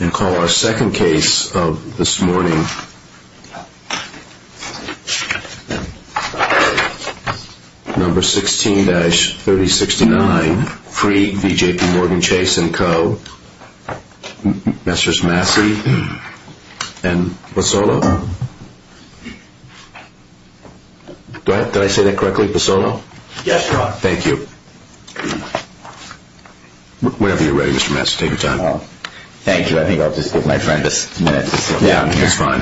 And call our second case of this morning, number 16-3069, Freed v. J.P. Morgan, Chase & Co., Messrs. Massey and Pozzolo. Did I say that correctly, Pozzolo? Yes, John. Thank you. Whenever you're ready, Mr. Massey, take your time. Thank you. I think I'll just give my friend a minute to sit down here. That's fine.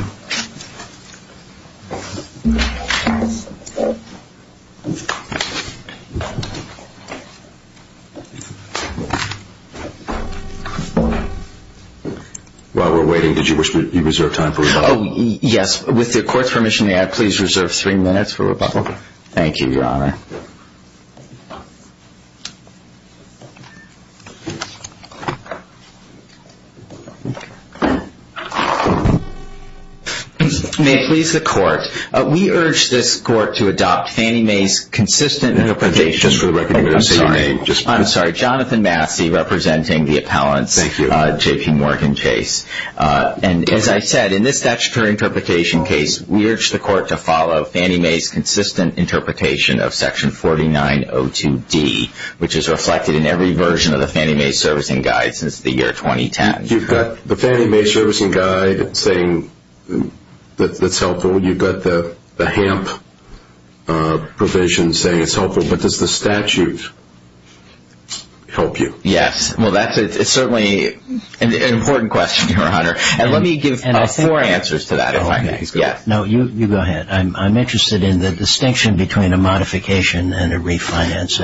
While we're waiting, did you reserve time for rebuttal? Yes. With the court's permission, may I please reserve three minutes for rebuttal? Okay. Thank you, Your Honor. May it please the court, we urge this court to adopt Fannie Mae's consistent interpretation. Just for the record, I didn't say Fannie Mae. I'm sorry. Jonathan Massey, representing the appellants. Thank you. J.P. Morgan, Chase. As I said, in this statutory interpretation case, we urge the court to follow Fannie Mae's consistent interpretation of section 4902D, which is reflected in every version of the Fannie Mae Servicing Guide since the year 2010. You've got the Fannie Mae Servicing Guide saying it's helpful. You've got the HAMP provision saying it's helpful. But does the statute help you? Yes. Well, that's certainly an important question, Your Honor. And let me give four answers to that, if I may. No, you go ahead. I'm interested in the distinction between a modification and a refinance.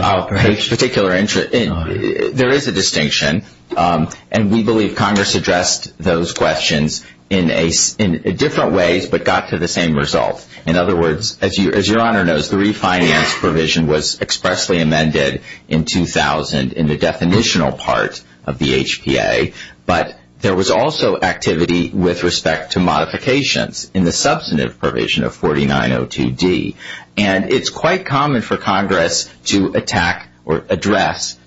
There is a distinction. And we believe Congress addressed those questions in different ways but got to the same result. In other words, as Your Honor knows, the refinance provision was expressly amended in 2000 in the definitional part of the HPA. But there was also activity with respect to modifications in the substantive provision of 4902D. And it's quite common for Congress to attack or address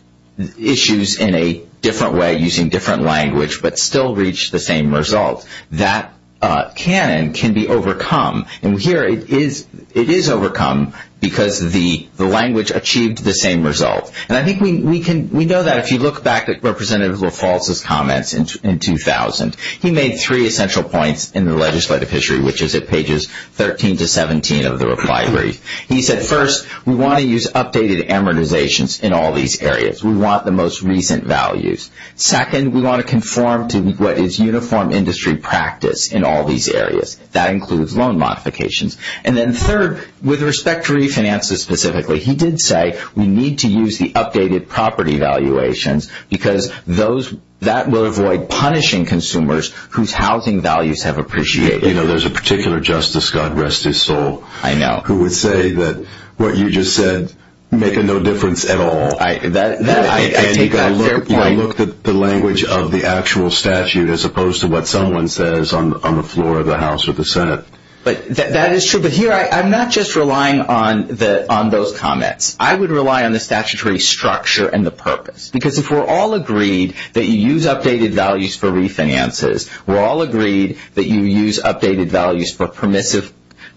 issues in a different way using different language but still reach the same result. That canon can be overcome. And here it is overcome because the language achieved the same result. And I think we know that if you look back at Representative LaFalse's comments in 2000, he made three essential points in the legislative history, which is at pages 13 to 17 of the reply brief. He said, first, we want to use updated amortizations in all these areas. We want the most recent values. Second, we want to conform to what is uniform industry practice in all these areas. That includes loan modifications. And then third, with respect to refinances specifically, he did say we need to use the updated property valuations because that will avoid punishing consumers whose housing values have appreciated. You know, there's a particular justice, God rest his soul, who would say that what you just said make no difference at all. And you've got to look at the language of the actual statute as opposed to what someone says on the floor of the House or the Senate. That is true. But here I'm not just relying on those comments. I would rely on the statutory structure and the purpose. Because if we're all agreed that you use updated values for refinances, we're all agreed that you use updated values for permissive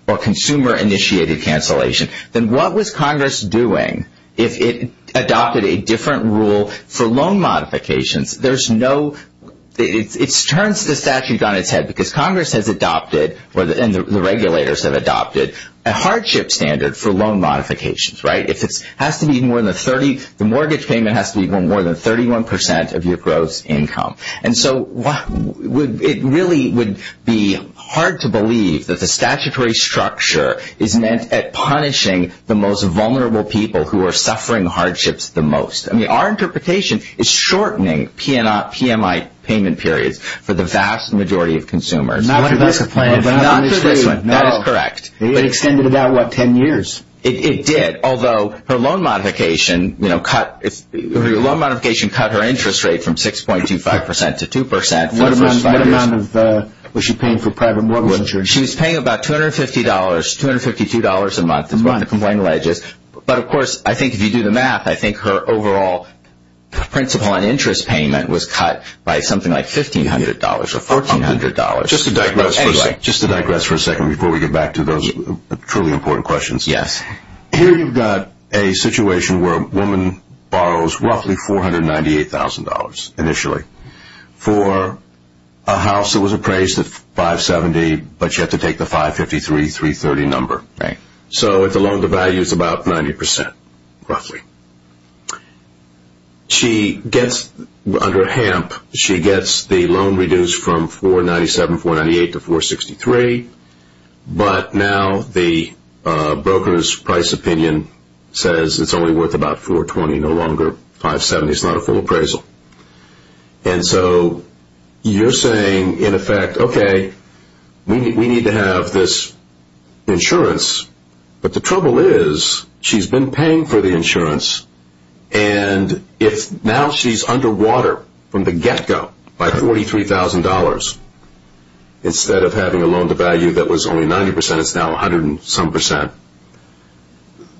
or consumer-initiated cancellation, then what was Congress doing if it adopted a different rule for loan modifications? There's no – it turns the statute on its head because Congress has adopted and the regulators have adopted a hardship standard for loan modifications, right? If it has to be more than 30 – the mortgage payment has to be more than 31 percent of your gross income. And so it really would be hard to believe that the statutory structure is meant at punishing the most vulnerable people who are suffering hardships the most. I mean, our interpretation is shortening PMI payment periods for the vast majority of consumers. Not for this one. Not for this one. That is correct. It extended about, what, 10 years? It did, although her loan modification cut her interest rate from 6.25 percent to 2 percent. What amount of – was she paying for private mortgage insurance? She was paying about $250, $252 a month, is what the complaint alleges. But of course, I think if you do the math, I think her overall principal and interest payment was cut by something like $1,500 or $1,400. Just to digress for a second before we get back to those truly important questions. Yes. Here you've got a situation where a woman borrows roughly $498,000 initially for a house that was appraised at $570,000, but she had to take the $553,000, $330,000 number. Right. So the loan to value is about 90 percent, roughly. She gets – under HAMP, she gets the loan reduced from $497,000, $498,000 to $463,000, but now the broker's price opinion says it's only worth about $420,000, no longer $570,000. It's not a full appraisal. And so you're saying, in effect, okay, we need to have this insurance. But the trouble is she's been paying for the insurance, and if now she's underwater from the get-go by $43,000 instead of having a loan to value that was only 90 percent, it's now 100 and some percent.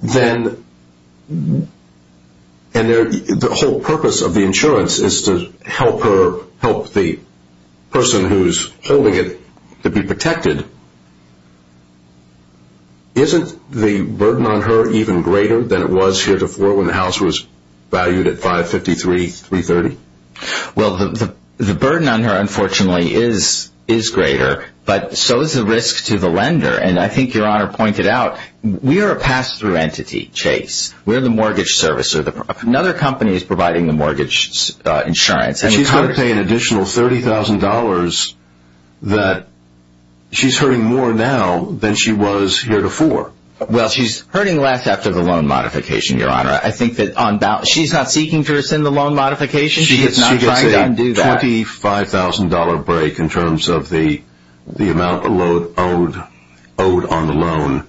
Then – and the whole purpose of the insurance is to help her help the person who's holding it to be protected. Isn't the burden on her even greater than it was heretofore when the house was valued at $553,000, $330,000? Well, the burden on her, unfortunately, is greater, but so is the risk to the lender. And I think Your Honor pointed out, we are a pass-through entity, Chase. We're the mortgage servicer. Another company is providing the mortgage insurance. But she's going to pay an additional $30,000 that – she's hurting more now than she was heretofore. Well, she's hurting less after the loan modification, Your Honor. I think that on – she's not seeking to rescind the loan modification. She is not trying to undo that. It's a $25,000 break in terms of the amount owed on the loan,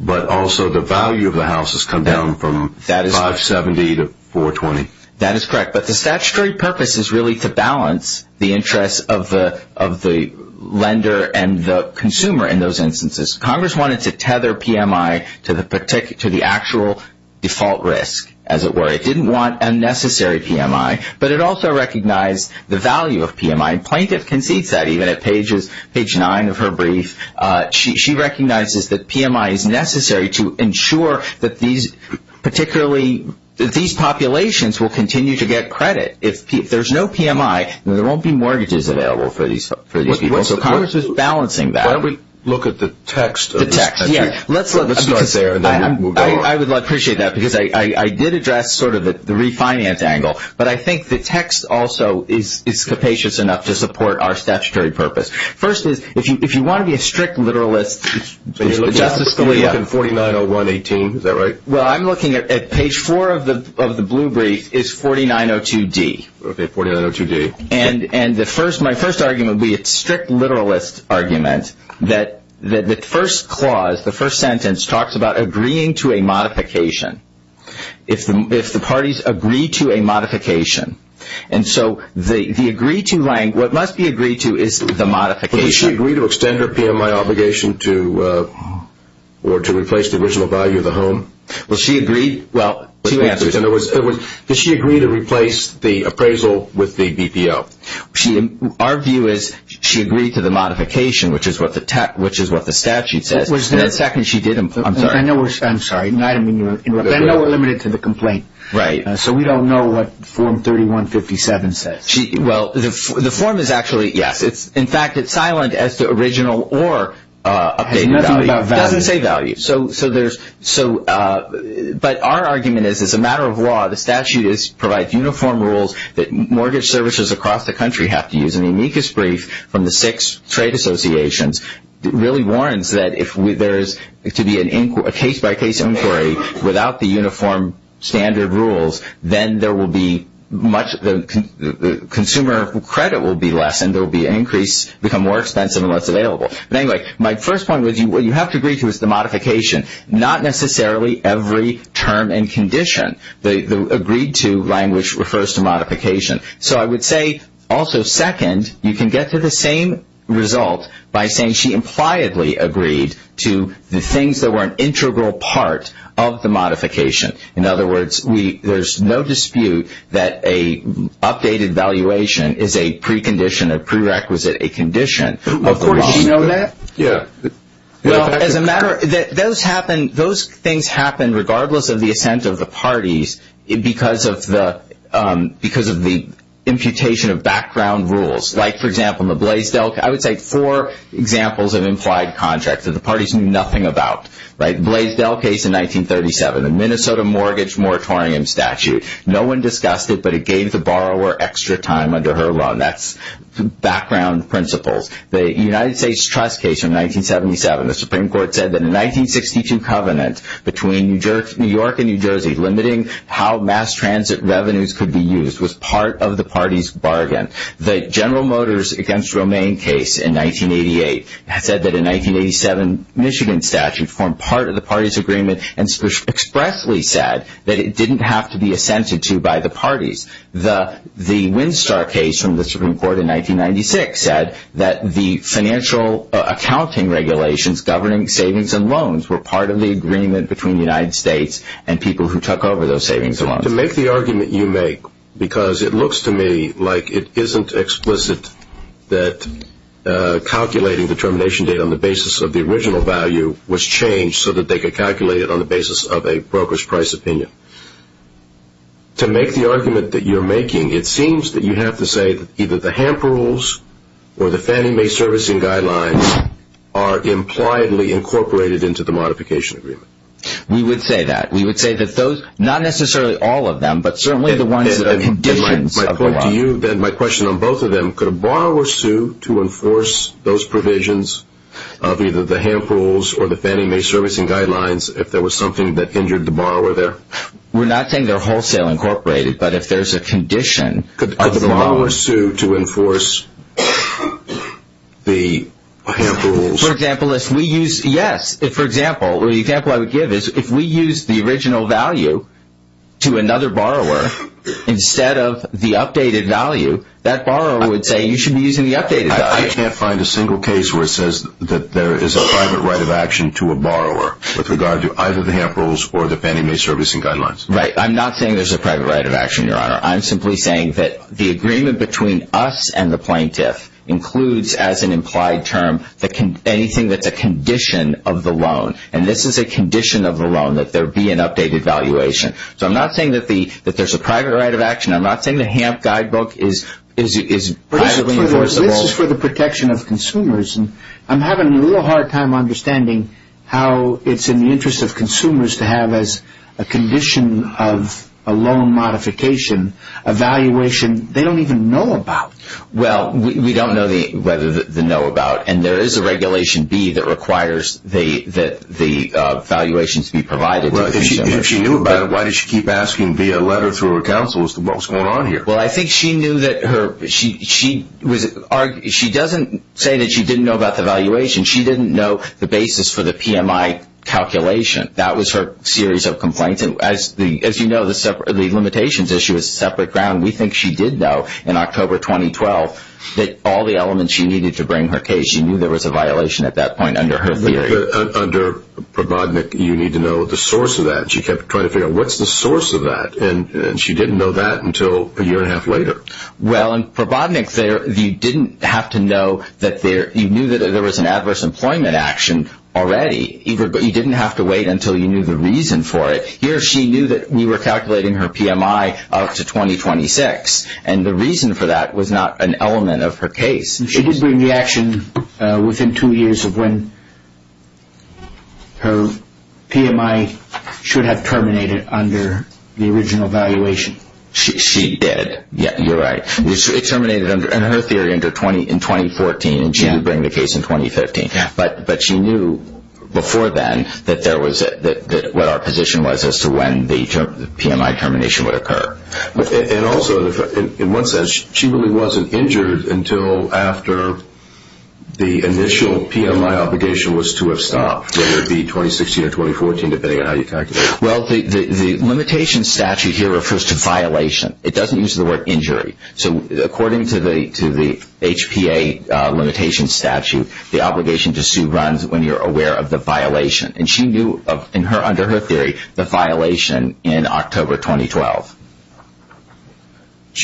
but also the value of the house has come down from $570,000 to $420,000. That is correct. But the statutory purpose is really to balance the interests of the lender and the consumer in those instances. Congress wanted to tether PMI to the actual default risk, as it were. It didn't want unnecessary PMI, but it also recognized the value of PMI. And Plaintiff concedes that even at page 9 of her brief. She recognizes that PMI is necessary to ensure that these – particularly that these populations will continue to get credit. If there's no PMI, there won't be mortgages available for these people. So Congress is balancing that. Why don't we look at the text of this? The text, yeah. Let's start there and then we'll go on. I would appreciate that because I did address sort of the refinance angle. But I think the text also is capacious enough to support our statutory purpose. First is, if you want to be a strict literalist, Justice Scalia – You're looking at 490118, is that right? Well, I'm looking at – page 4 of the blue brief is 4902D. Okay, 4902D. And my first argument would be a strict literalist argument that the first clause, the first sentence, talks about agreeing to a modification. If the parties agree to a modification. And so the agree to – what must be agreed to is the modification. Does she agree to extend her PMI obligation to – or to replace the original value of the home? Well, she agreed – well, two answers. Does she agree to replace the appraisal with the BPO? Our view is she agreed to the modification, which is what the statute says. It was the second she did – I'm sorry. I know we're – I'm sorry. I know we're limited to the complaint. Right. So we don't know what Form 3157 says. Well, the form is actually – yes. In fact, it's silent as to original or updated value. It doesn't say value. So there's – but our argument is it's a matter of law. The statute provides uniform rules that mortgage services across the country have to use. And the amicus brief from the six trade associations really warns that if there is to be a case-by-case inquiry without the uniform standard rules, then there will be much – the consumer credit will be less, and there will be an increase, become more expensive and less available. But anyway, my first point with you, what you have to agree to is the modification, not necessarily every term and condition. The agreed to language refers to modification. So I would say also second, you can get to the same result by saying she impliedly agreed to the things that were an integral part of the modification. In other words, we – there's no dispute that a updated valuation is a precondition, a prerequisite, a condition of the law. Do you know that? Yeah. Well, as a matter – those happen – those things happen regardless of the assent of the parties because of the imputation of background rules. Like, for example, the Blaisdell – I would say four examples of implied contracts that the parties knew nothing about, right? Blaisdell case in 1937, the Minnesota mortgage moratorium statute. No one discussed it, but it gave the borrower extra time under her law, and that's background principles. The United States trust case in 1977, the Supreme Court said that a 1962 covenant between New York and New Jersey limiting how mass transit revenues could be used was part of the party's bargain. The General Motors against Romaine case in 1988 said that a 1987 Michigan statute formed part of the party's agreement and expressly said that it didn't have to be assented to by the parties. The Winstar case from the Supreme Court in 1996 said that the financial accounting regulations governing savings and loans were part of the agreement between the United States and people who took over those savings and loans. To make the argument you make, because it looks to me like it isn't explicit that calculating the termination date on the basis of the original value was changed so that they could calculate it on the basis of a broker's price opinion. To make the argument that you're making, it seems that you have to say that either the HAMP rules or the Fannie Mae servicing guidelines are impliedly incorporated into the modification agreement. We would say that. We would say that those, not necessarily all of them, but certainly the ones that are conditions of the law. We're not saying they're wholesale incorporated, but if there's a condition of the law. Could the borrower sue to enforce the HAMP rules? For example, yes. For example, the example I would give is if we use the original value to another borrower instead of the updated value, that borrower would say you should be using the updated value. I can't find a single case where it says that there is a private right of action to a borrower with regard to either the HAMP rules or the Fannie Mae servicing guidelines. Right. I'm not saying there's a private right of action, Your Honor. I'm simply saying that the agreement between us and the plaintiff includes, as an implied term, anything that's a condition of the loan. And this is a condition of the loan, that there be an updated valuation. So I'm not saying that there's a private right of action. I'm not saying the HAMP guidebook is privately enforceable. Well, this is for the protection of consumers, and I'm having a little hard time understanding how it's in the interest of consumers to have as a condition of a loan modification a valuation they don't even know about. Well, we don't know whether they know about, and there is a Regulation B that requires that the valuations be provided to consumers. If she knew about it, why did she keep asking via letter through her counsel as to what was going on here? Well, I think she knew that her – she doesn't say that she didn't know about the valuation. She didn't know the basis for the PMI calculation. That was her series of complaints. And as you know, the limitations issue is separate ground. We think she did know in October 2012 that all the elements she needed to bring her case, she knew there was a violation at that point under her theory. I think under Probodnik, you need to know the source of that. She kept trying to figure out what's the source of that, and she didn't know that until a year and a half later. Well, in Probodnik, you didn't have to know that there – you knew that there was an adverse employment action already. You didn't have to wait until you knew the reason for it. Here, she knew that we were calculating her PMI up to 2026, and the reason for that was not an element of her case. She did bring the action within two years of when her PMI should have terminated under the original valuation. She did. You're right. It terminated under – in her theory, in 2014, and she did bring the case in 2015. But she knew before then that there was – that what our position was as to when the PMI termination would occur. And also, in one sense, she really wasn't injured until after the initial PMI obligation was to have stopped, whether it be 2016 or 2014, depending on how you calculate it. Well, the limitation statute here refers to violation. It doesn't use the word injury. So according to the HPA limitation statute, the obligation to sue runs when you're aware of the violation. And she knew, under her theory, the violation in October 2012.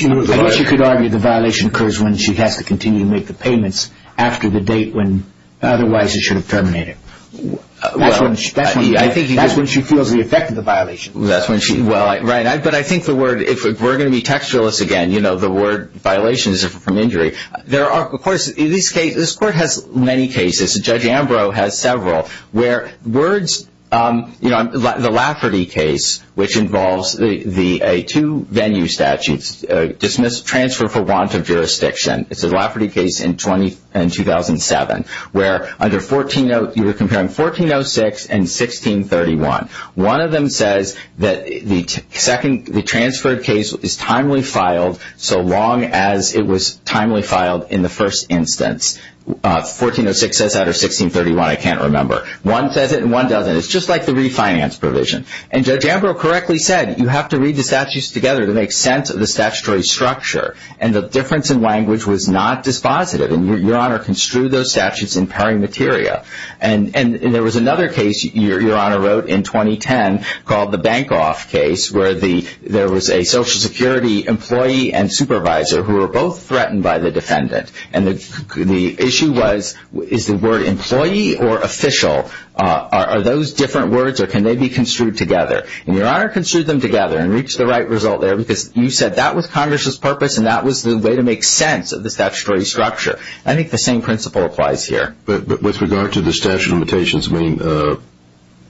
I guess you could argue the violation occurs when she has to continue to make the payments after the date when otherwise it should have terminated. That's when she feels the effect of the violation. That's when she – well, right. But I think the word – if we're going to be textualists again, you know, the word violation is different from injury. There are – of course, this case – this court has many cases. Judge Ambrose has several. Where words – you know, the Lafferty case, which involves the two venue statutes, dismiss, transfer for want of jurisdiction. It's the Lafferty case in 2007, where under 14 – you were comparing 1406 and 1631. One of them says that the second – the transferred case is timely filed so long as it was timely filed in the first instance. 1406 says that or 1631, I can't remember. One says it and one doesn't. It's just like the refinance provision. And Judge Ambrose correctly said you have to read the statutes together to make sense of the statutory structure. And the difference in language was not dispositive. And Your Honor construed those statutes in peri materia. And there was another case Your Honor wrote in 2010 called the Bankoff case, where there was a Social Security employee and supervisor who were both threatened by the defendant. And the issue was, is the word employee or official? Are those different words or can they be construed together? And Your Honor construed them together and reached the right result there because you said that was Congress's purpose and that was the way to make sense of the statutory structure. I think the same principle applies here. But with regard to the statutory limitations, I mean,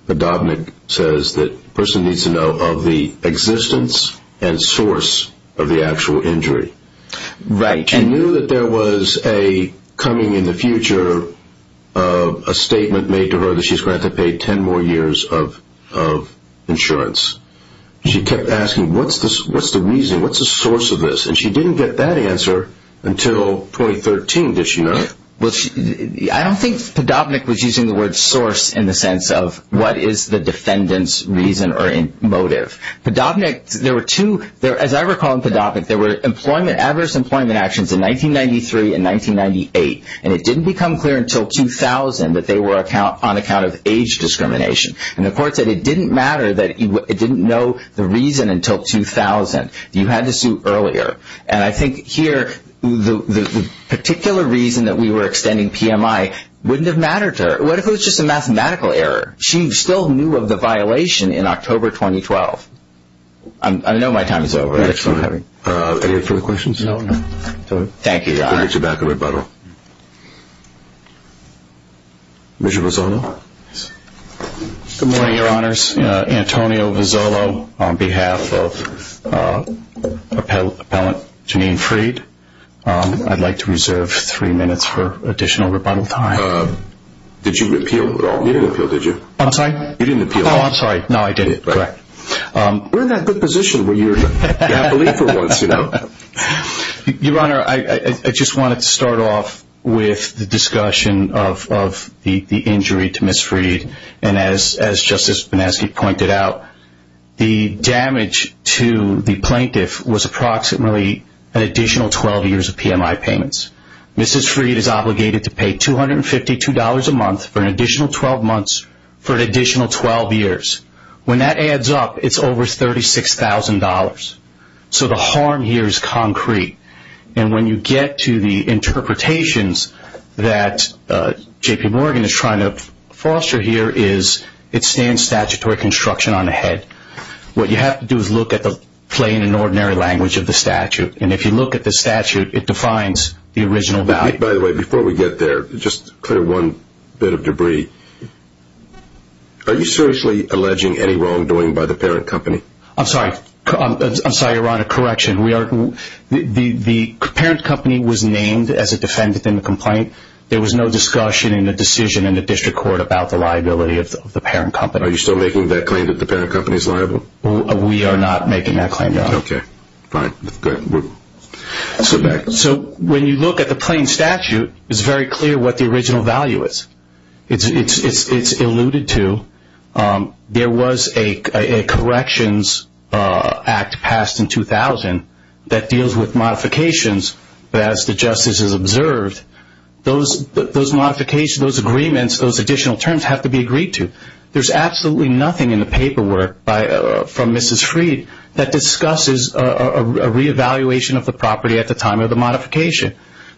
Dobnick says that a person needs to know of the existence and source of the actual injury. Right. She knew that there was a coming in the future, a statement made to her that she's going to have to pay 10 more years of insurance. She kept asking, what's the reason, what's the source of this? And she didn't get that answer until 2013, did she not? I don't think that Dobnick was using the word source in the sense of what is the defendant's reason or motive. As I recall in Podobnick, there were adverse employment actions in 1993 and 1998. And it didn't become clear until 2000 that they were on account of age discrimination. And the court said it didn't matter that it didn't know the reason until 2000. You had to sue earlier. And I think here the particular reason that we were extending PMI wouldn't have mattered to her. What if it was just a mathematical error? She still knew of the violation in October 2012. I know my time is over. Excellent. Any other further questions? No, no. Thank you, Your Honor. We'll get you back in rebuttal. Mr. Vizzolo. Good morning, Your Honors. Antonio Vizzolo on behalf of Appellant Janine Freed. I'd like to reserve three minutes for additional rebuttal time. Did you appeal at all? You didn't appeal, did you? I'm sorry? You didn't appeal. Oh, I'm sorry. No, I didn't. Correct. We're in that good position where you're happily for once, you know. Your Honor, I just wanted to start off with the discussion of the injury to Ms. Freed. And as Justice Banaski pointed out, the damage to the plaintiff was approximately an additional 12 years of PMI payments. Mrs. Freed is obligated to pay $252 a month for an additional 12 months for an additional 12 years. When that adds up, it's over $36,000. So the harm here is concrete. And when you get to the interpretations that J.P. Morgan is trying to foster here is it stands statutory construction on the head. What you have to do is look at the plain and ordinary language of the statute. And if you look at the statute, it defines the original value. By the way, before we get there, just clear one bit of debris. Are you seriously alleging any wrongdoing by the parent company? I'm sorry. I'm sorry, Your Honor. Correction. The parent company was named as a defendant in the complaint. There was no discussion in the decision in the district court about the liability of the parent company. Are you still making that claim that the parent company is liable? We are not making that claim, Your Honor. Okay. Fine. Good. Let's go back. So when you look at the plain statute, it's very clear what the original value is. It's alluded to. There was a corrections act passed in 2000 that deals with modifications. But as the justice has observed, those modifications, those agreements, those additional terms have to be agreed to. There's absolutely nothing in the paperwork from Mrs. Freed that discusses a reevaluation of the property at the time of the modification.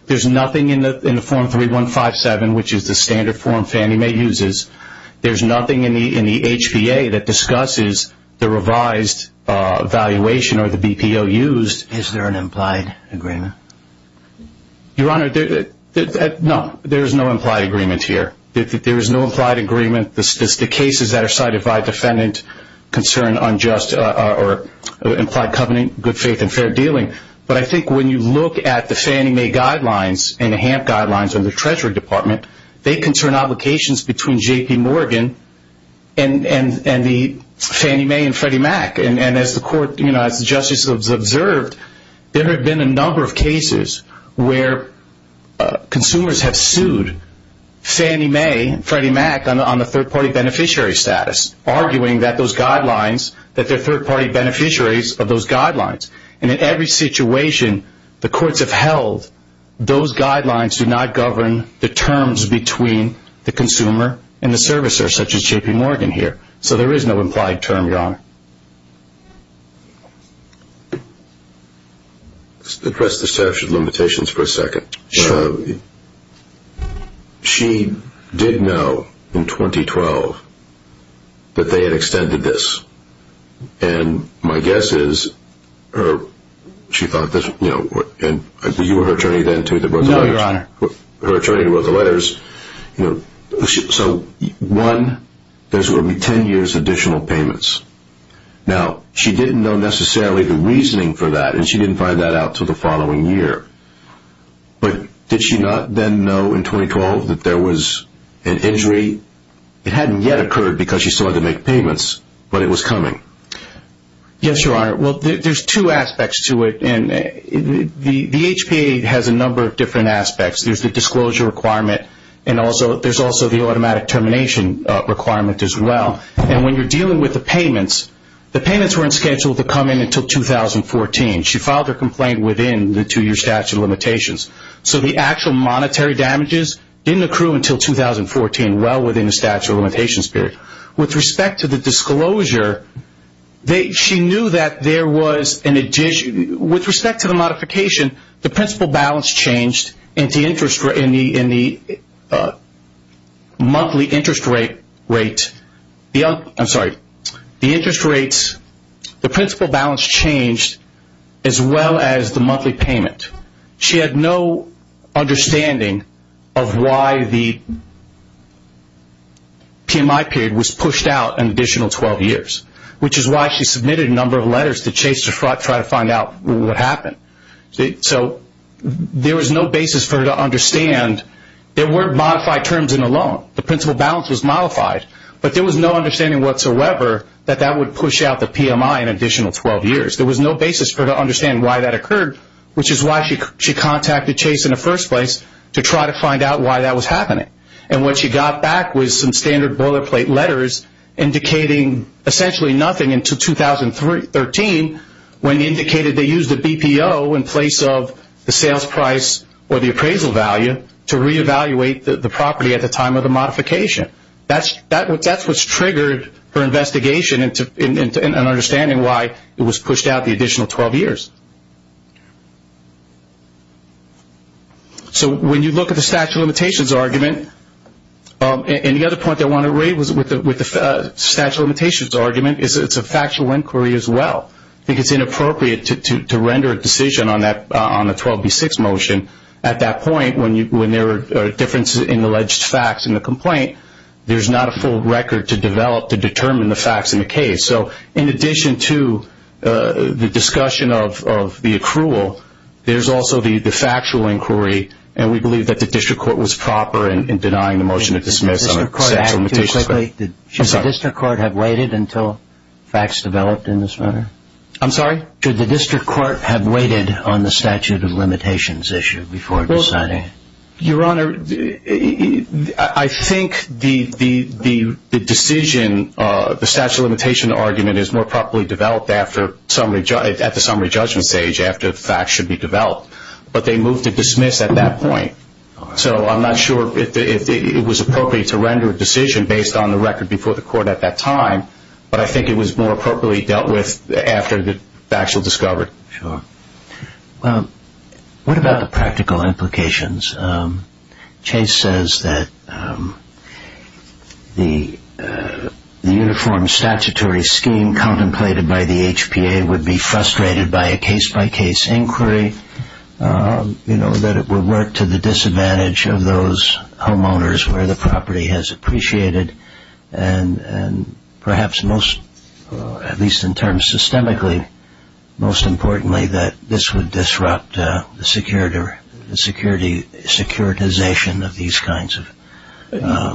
There's nothing in the form 3157, which is the standard form Fannie Mae uses. There's nothing in the HBA that discusses the revised valuation or the BPO used. Is there an implied agreement? Your Honor, no. There is no implied agreement here. There is no implied agreement. The cases that are cited by defendant concern unjust or implied covenant, good faith, and fair dealing. But I think when you look at the Fannie Mae guidelines and the HAMP guidelines in the Treasury Department, they concern obligations between J.P. Morgan and the Fannie Mae and Freddie Mac. And as the court, as the justice has observed, there have been a number of cases where consumers have sued Fannie Mae and Freddie Mac on the third-party beneficiary status, arguing that those guidelines, that they're third-party beneficiaries of those guidelines. And in every situation the courts have held, those guidelines do not govern the terms between the consumer and the servicer, such as J.P. Morgan here. So there is no implied term, Your Honor. Address the statute of limitations for a second. Sure. She did know in 2012 that they had extended this. And my guess is, you were her attorney then, too, that wrote the letters. No, Your Honor. Her attorney wrote the letters. So, one, there's going to be ten years' additional payments. Now, she didn't know necessarily the reasoning for that, and she didn't find that out until the following year. But did she not then know in 2012 that there was an injury? It hadn't yet occurred because she still had to make payments, but it was coming. Yes, Your Honor. Well, there's two aspects to it, and the HPA has a number of different aspects. There's the disclosure requirement, and there's also the automatic termination requirement as well. And when you're dealing with the payments, the payments weren't scheduled to come in until 2014. She filed her complaint within the two-year statute of limitations. So the actual monetary damages didn't accrue until 2014, well within the statute of limitations period. With respect to the disclosure, she knew that there was an addition. With respect to the modification, the principal balance changed in the monthly interest rate. I'm sorry. The interest rates, the principal balance changed as well as the monthly payment. She had no understanding of why the PMI period was pushed out an additional 12 years, which is why she submitted a number of letters to Chase to try to find out what happened. So there was no basis for her to understand. There were modified terms in the loan. The principal balance was modified. But there was no understanding whatsoever that that would push out the PMI an additional 12 years. There was no basis for her to understand why that occurred, which is why she contacted Chase in the first place to try to find out why that was happening. And what she got back was some standard boilerplate letters indicating essentially nothing until 2013 when indicated they used a BPO in place of the sales price or the appraisal value to reevaluate the property at the time of the modification. That's what's triggered her investigation and understanding why it was pushed out the additional 12 years. So when you look at the statute of limitations argument, and the other point I want to raise with the statute of limitations argument is it's a factual inquiry as well. I think it's inappropriate to render a decision on the 12B6 motion at that point when there are differences in alleged facts in the complaint. There's not a full record to develop to determine the facts in the case. So in addition to the discussion of the accrual, there's also the factual inquiry, and we believe that the district court was proper in denying the motion to dismiss on the statute of limitations. Should the district court have waited until facts developed in this matter? I'm sorry? Should the district court have waited on the statute of limitations issue before deciding? Your Honor, I think the decision, the statute of limitations argument, is more properly developed at the summary judgment stage after facts should be developed, but they moved to dismiss at that point. So I'm not sure if it was appropriate to render a decision based on the record before the court at that time, but I think it was more appropriately dealt with after the facts were discovered. Sure. Well, what about the practical implications? Chase says that the uniform statutory scheme contemplated by the HPA would be frustrated by a case-by-case inquiry, that it would work to the disadvantage of those homeowners where the property has appreciated, and perhaps most, at least in terms systemically, most importantly, that this would disrupt the securitization of these kinds of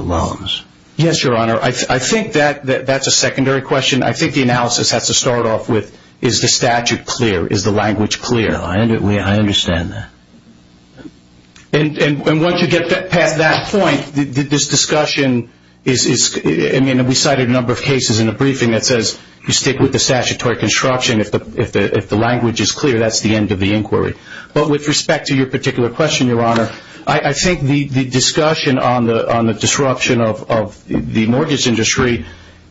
loans. Yes, Your Honor. I think that's a secondary question. I think the analysis has to start off with, is the statute clear? Is the language clear? I understand that. And once you get past that point, this discussion is, I mean, we cited a number of cases in the briefing that says you stick with the statutory construction. If the language is clear, that's the end of the inquiry. But with respect to your particular question, Your Honor, I think the discussion on the disruption of the mortgage industry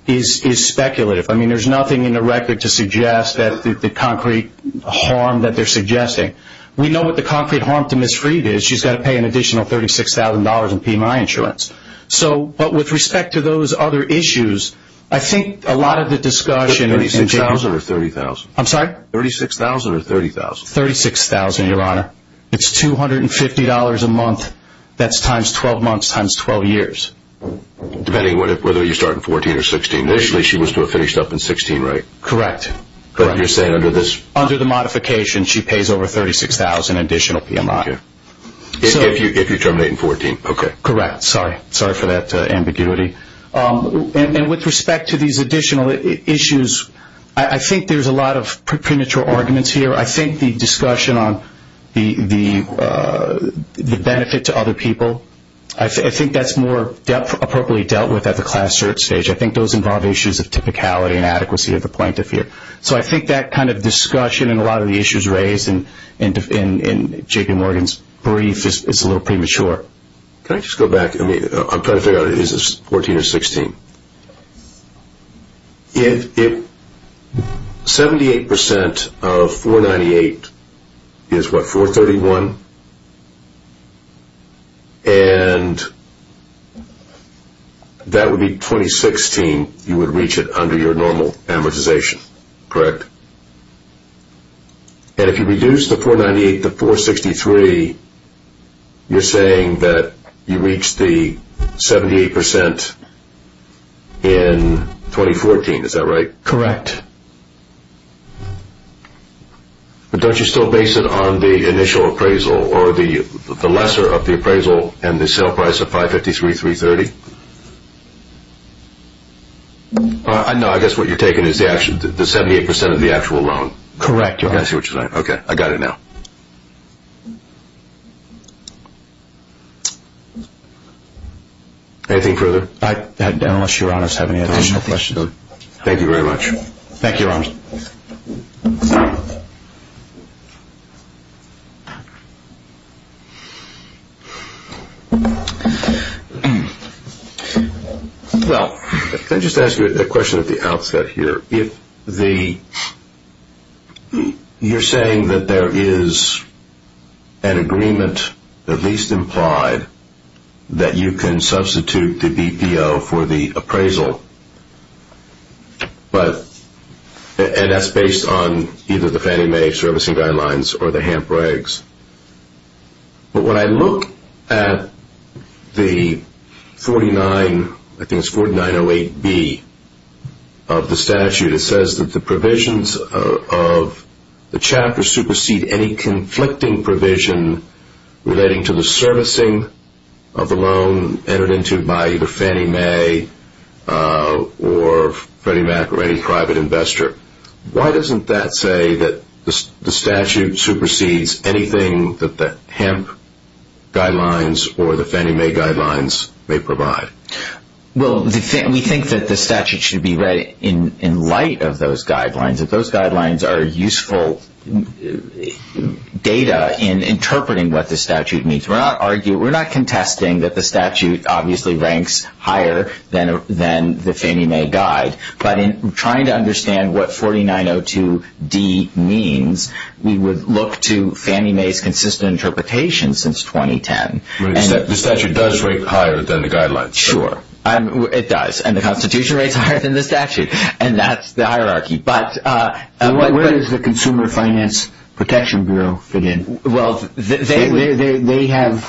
is speculative. I mean, there's nothing in the record to suggest that the concrete harm that they're suggesting. We know what the concrete harm to Ms. Freed is. She's got to pay an additional $36,000 in PMI insurance. But with respect to those other issues, I think a lot of the discussion is in general. $36,000 or $30,000? I'm sorry? $36,000 or $30,000? $36,000, Your Honor. It's $250 a month. That's times 12 months, times 12 years. Depending on whether you start in 14 or 16. Initially she was to have finished up in 16, right? Correct. But you're saying under this? Under the modification, she pays over $36,000 in additional PMI. If you terminate in 14, okay. Correct. Sorry. Sorry for that ambiguity. And with respect to these additional issues, I think there's a lot of premature arguments here. I think the discussion on the benefit to other people, I think that's more appropriately dealt with at the class search stage. I think those involve issues of typicality and adequacy of the plaintiff here. So I think that kind of discussion and a lot of the issues raised in J.P. Morgan's brief is a little premature. Can I just go back? I'm trying to figure out, is this 14 or 16? If 78% of 498 is what, 431? And that would be 2016, you would reach it under your normal amortization, correct? And if you reduce the 498 to 463, you're saying that you reach the 78% in 2014, is that right? Correct. But don't you still base it on the initial appraisal or the lesser of the appraisal and the sale price of 553,330? No, I guess what you're taking is the 78% of the actual loan. Correct, Your Honor. I see what you're saying. Okay, I got it now. Anything further? Unless Your Honors have any additional questions. Thank you very much. Thank you, Your Honors. Well, can I just ask you a question at the outset here? You're saying that there is an agreement, at least implied, that you can substitute the BPO for the appraisal. And that's based on either the Fannie Mae servicing guidelines or the HAMP regs. But when I look at the 4908B of the statute, it says that the provisions of the chapter supersede any conflicting provision relating to the servicing of the loan entered into by either Fannie Mae or Freddie Mac or any private investor. Why doesn't that say that the statute supersedes anything that the HAMP guidelines or the Fannie Mae guidelines may provide? Well, we think that the statute should be read in light of those guidelines. Those guidelines are useful data in interpreting what the statute means. We're not contesting that the statute obviously ranks higher than the Fannie Mae guide. But in trying to understand what 4902D means, we would look to Fannie Mae's consistent interpretation since 2010. The statute does rank higher than the guidelines. Sure, it does. And the Constitution ranks higher than the statute. And that's the hierarchy. But where does the Consumer Finance Protection Bureau fit in? Well, they have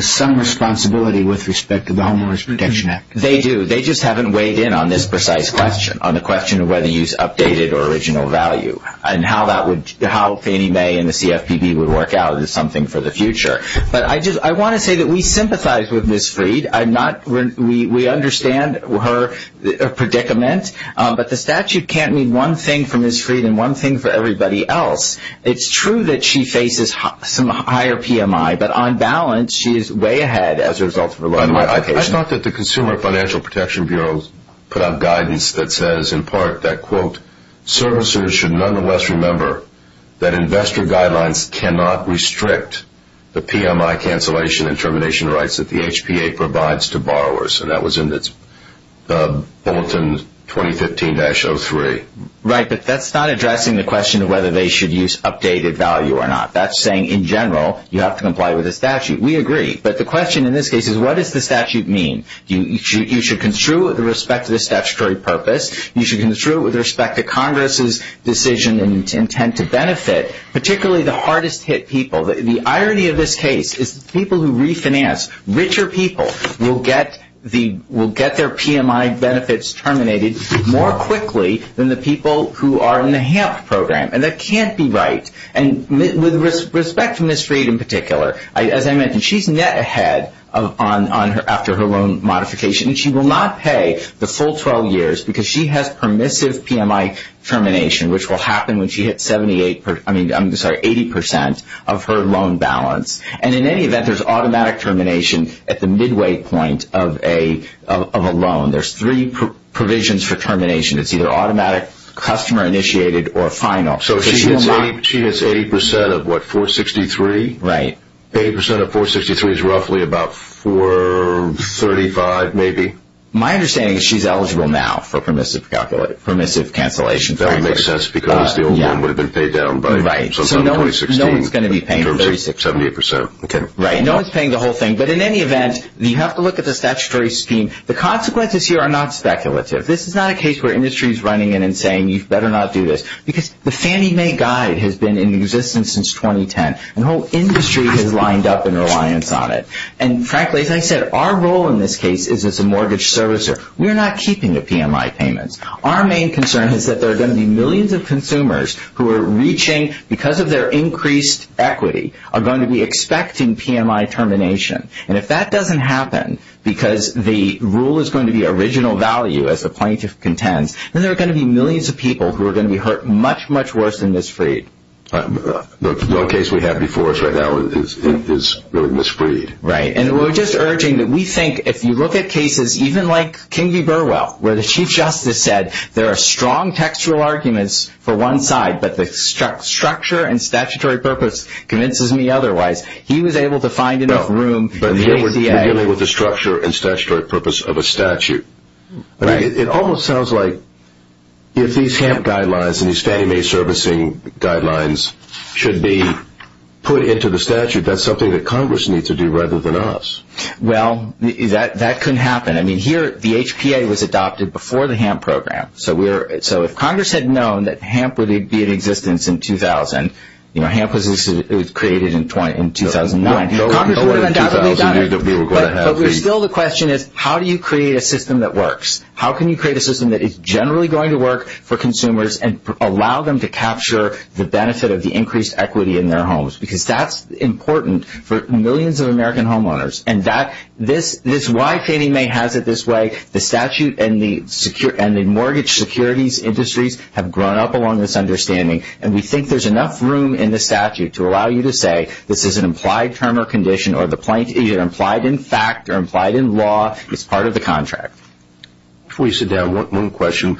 some responsibility with respect to the Homeowners Protection Act. They do. They just haven't weighed in on this precise question, on the question of whether you use updated or original value. And how Fannie Mae and the CFPB would work out is something for the future. But I want to say that we sympathize with Ms. Freed. We understand her predicament. But the statute can't mean one thing for Ms. Freed and one thing for everybody else. It's true that she faces some higher PMI. But on balance, she is way ahead as a result of her life. I thought that the Consumer Financial Protection Bureau put out guidance that says, in part, that, quote, the PMI cancellation and termination rights that the HPA provides to borrowers. And that was in its bulletin 2015-03. Right, but that's not addressing the question of whether they should use updated value or not. That's saying, in general, you have to comply with the statute. We agree. But the question in this case is, what does the statute mean? You should construe it with respect to the statutory purpose. You should construe it with respect to Congress's decision and intent to benefit, particularly the hardest-hit people. The irony of this case is the people who refinance, richer people, will get their PMI benefits terminated more quickly than the people who are in the HAMP program. And that can't be right. And with respect to Ms. Freed in particular, as I mentioned, she's net ahead after her loan modification. She will not pay the full 12 years because she has permissive PMI termination, which will happen when she hits 80% of her loan balance. And in any event, there's automatic termination at the midway point of a loan. There's three provisions for termination. It's either automatic, customer-initiated, or final. So she hits 80% of what, 463? Right. 80% of 463 is roughly about 435, maybe? My understanding is she's eligible now for permissive cancellation. That would make sense because the old loan would have been paid down by sometime in 2016. Right. So no one's going to be paying the 36, 78%. Okay. Right. No one's paying the whole thing. But in any event, you have to look at the statutory scheme. The consequences here are not speculative. This is not a case where industry is running in and saying you better not do this because the Fannie Mae guide has been in existence since 2010, and the whole industry has lined up in reliance on it. And frankly, as I said, our role in this case is as a mortgage servicer. We're not keeping the PMI payments. Our main concern is that there are going to be millions of consumers who are reaching, because of their increased equity, are going to be expecting PMI termination. And if that doesn't happen because the rule is going to be original value as the plaintiff contends, then there are going to be millions of people who are going to be hurt much, much worse than Ms. Freed. The case we have before us right now is Ms. Freed. Right. And we're just urging that we think if you look at cases, even like King v. Burwell where the Chief Justice said there are strong textual arguments for one side, but the structure and statutory purpose convinces me otherwise, he was able to find enough room in the ACA. But here we're dealing with the structure and statutory purpose of a statute. Right. It almost sounds like if these HAMP guidelines and these Fannie Mae servicing guidelines should be put into the statute, that's something that Congress needs to do rather than us. Well, that couldn't happen. I mean, here the HPA was adopted before the HAMP program. So if Congress had known that HAMP would be in existence in 2000, you know, HAMP was created in 2009. Congress would have undoubtedly done it. But still the question is how do you create a system that works? How can you create a system that is generally going to work for consumers and allow them to capture the benefit of the increased equity in their homes? Because that's important for millions of American homeowners. And that's why Fannie Mae has it this way. The statute and the mortgage securities industries have grown up along this understanding. And we think there's enough room in the statute to allow you to say this is an implied term or condition or implied in fact or implied in law as part of the contract. Before you sit down, one question.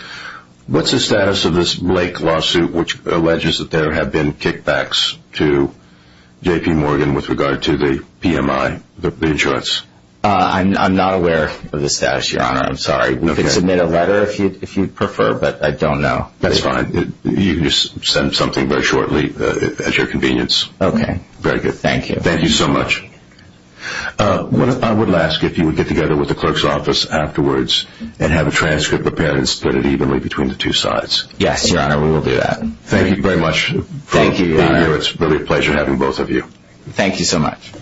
What's the status of this Blake lawsuit which alleges that there have been kickbacks to J.P. Morgan with regard to the PMI, the insurance? I'm not aware of the status, Your Honor. I'm sorry. You can submit a letter if you prefer, but I don't know. That's fine. You can just send something very shortly at your convenience. Okay. Very good. Thank you. Thank you so much. I would ask if you would get together with the clerk's office afterwards and have a transcript prepared and split it evenly between the two sides. Yes, Your Honor. We will do that. Thank you very much. Thank you, Your Honor. It's really a pleasure having both of you. Thank you so much.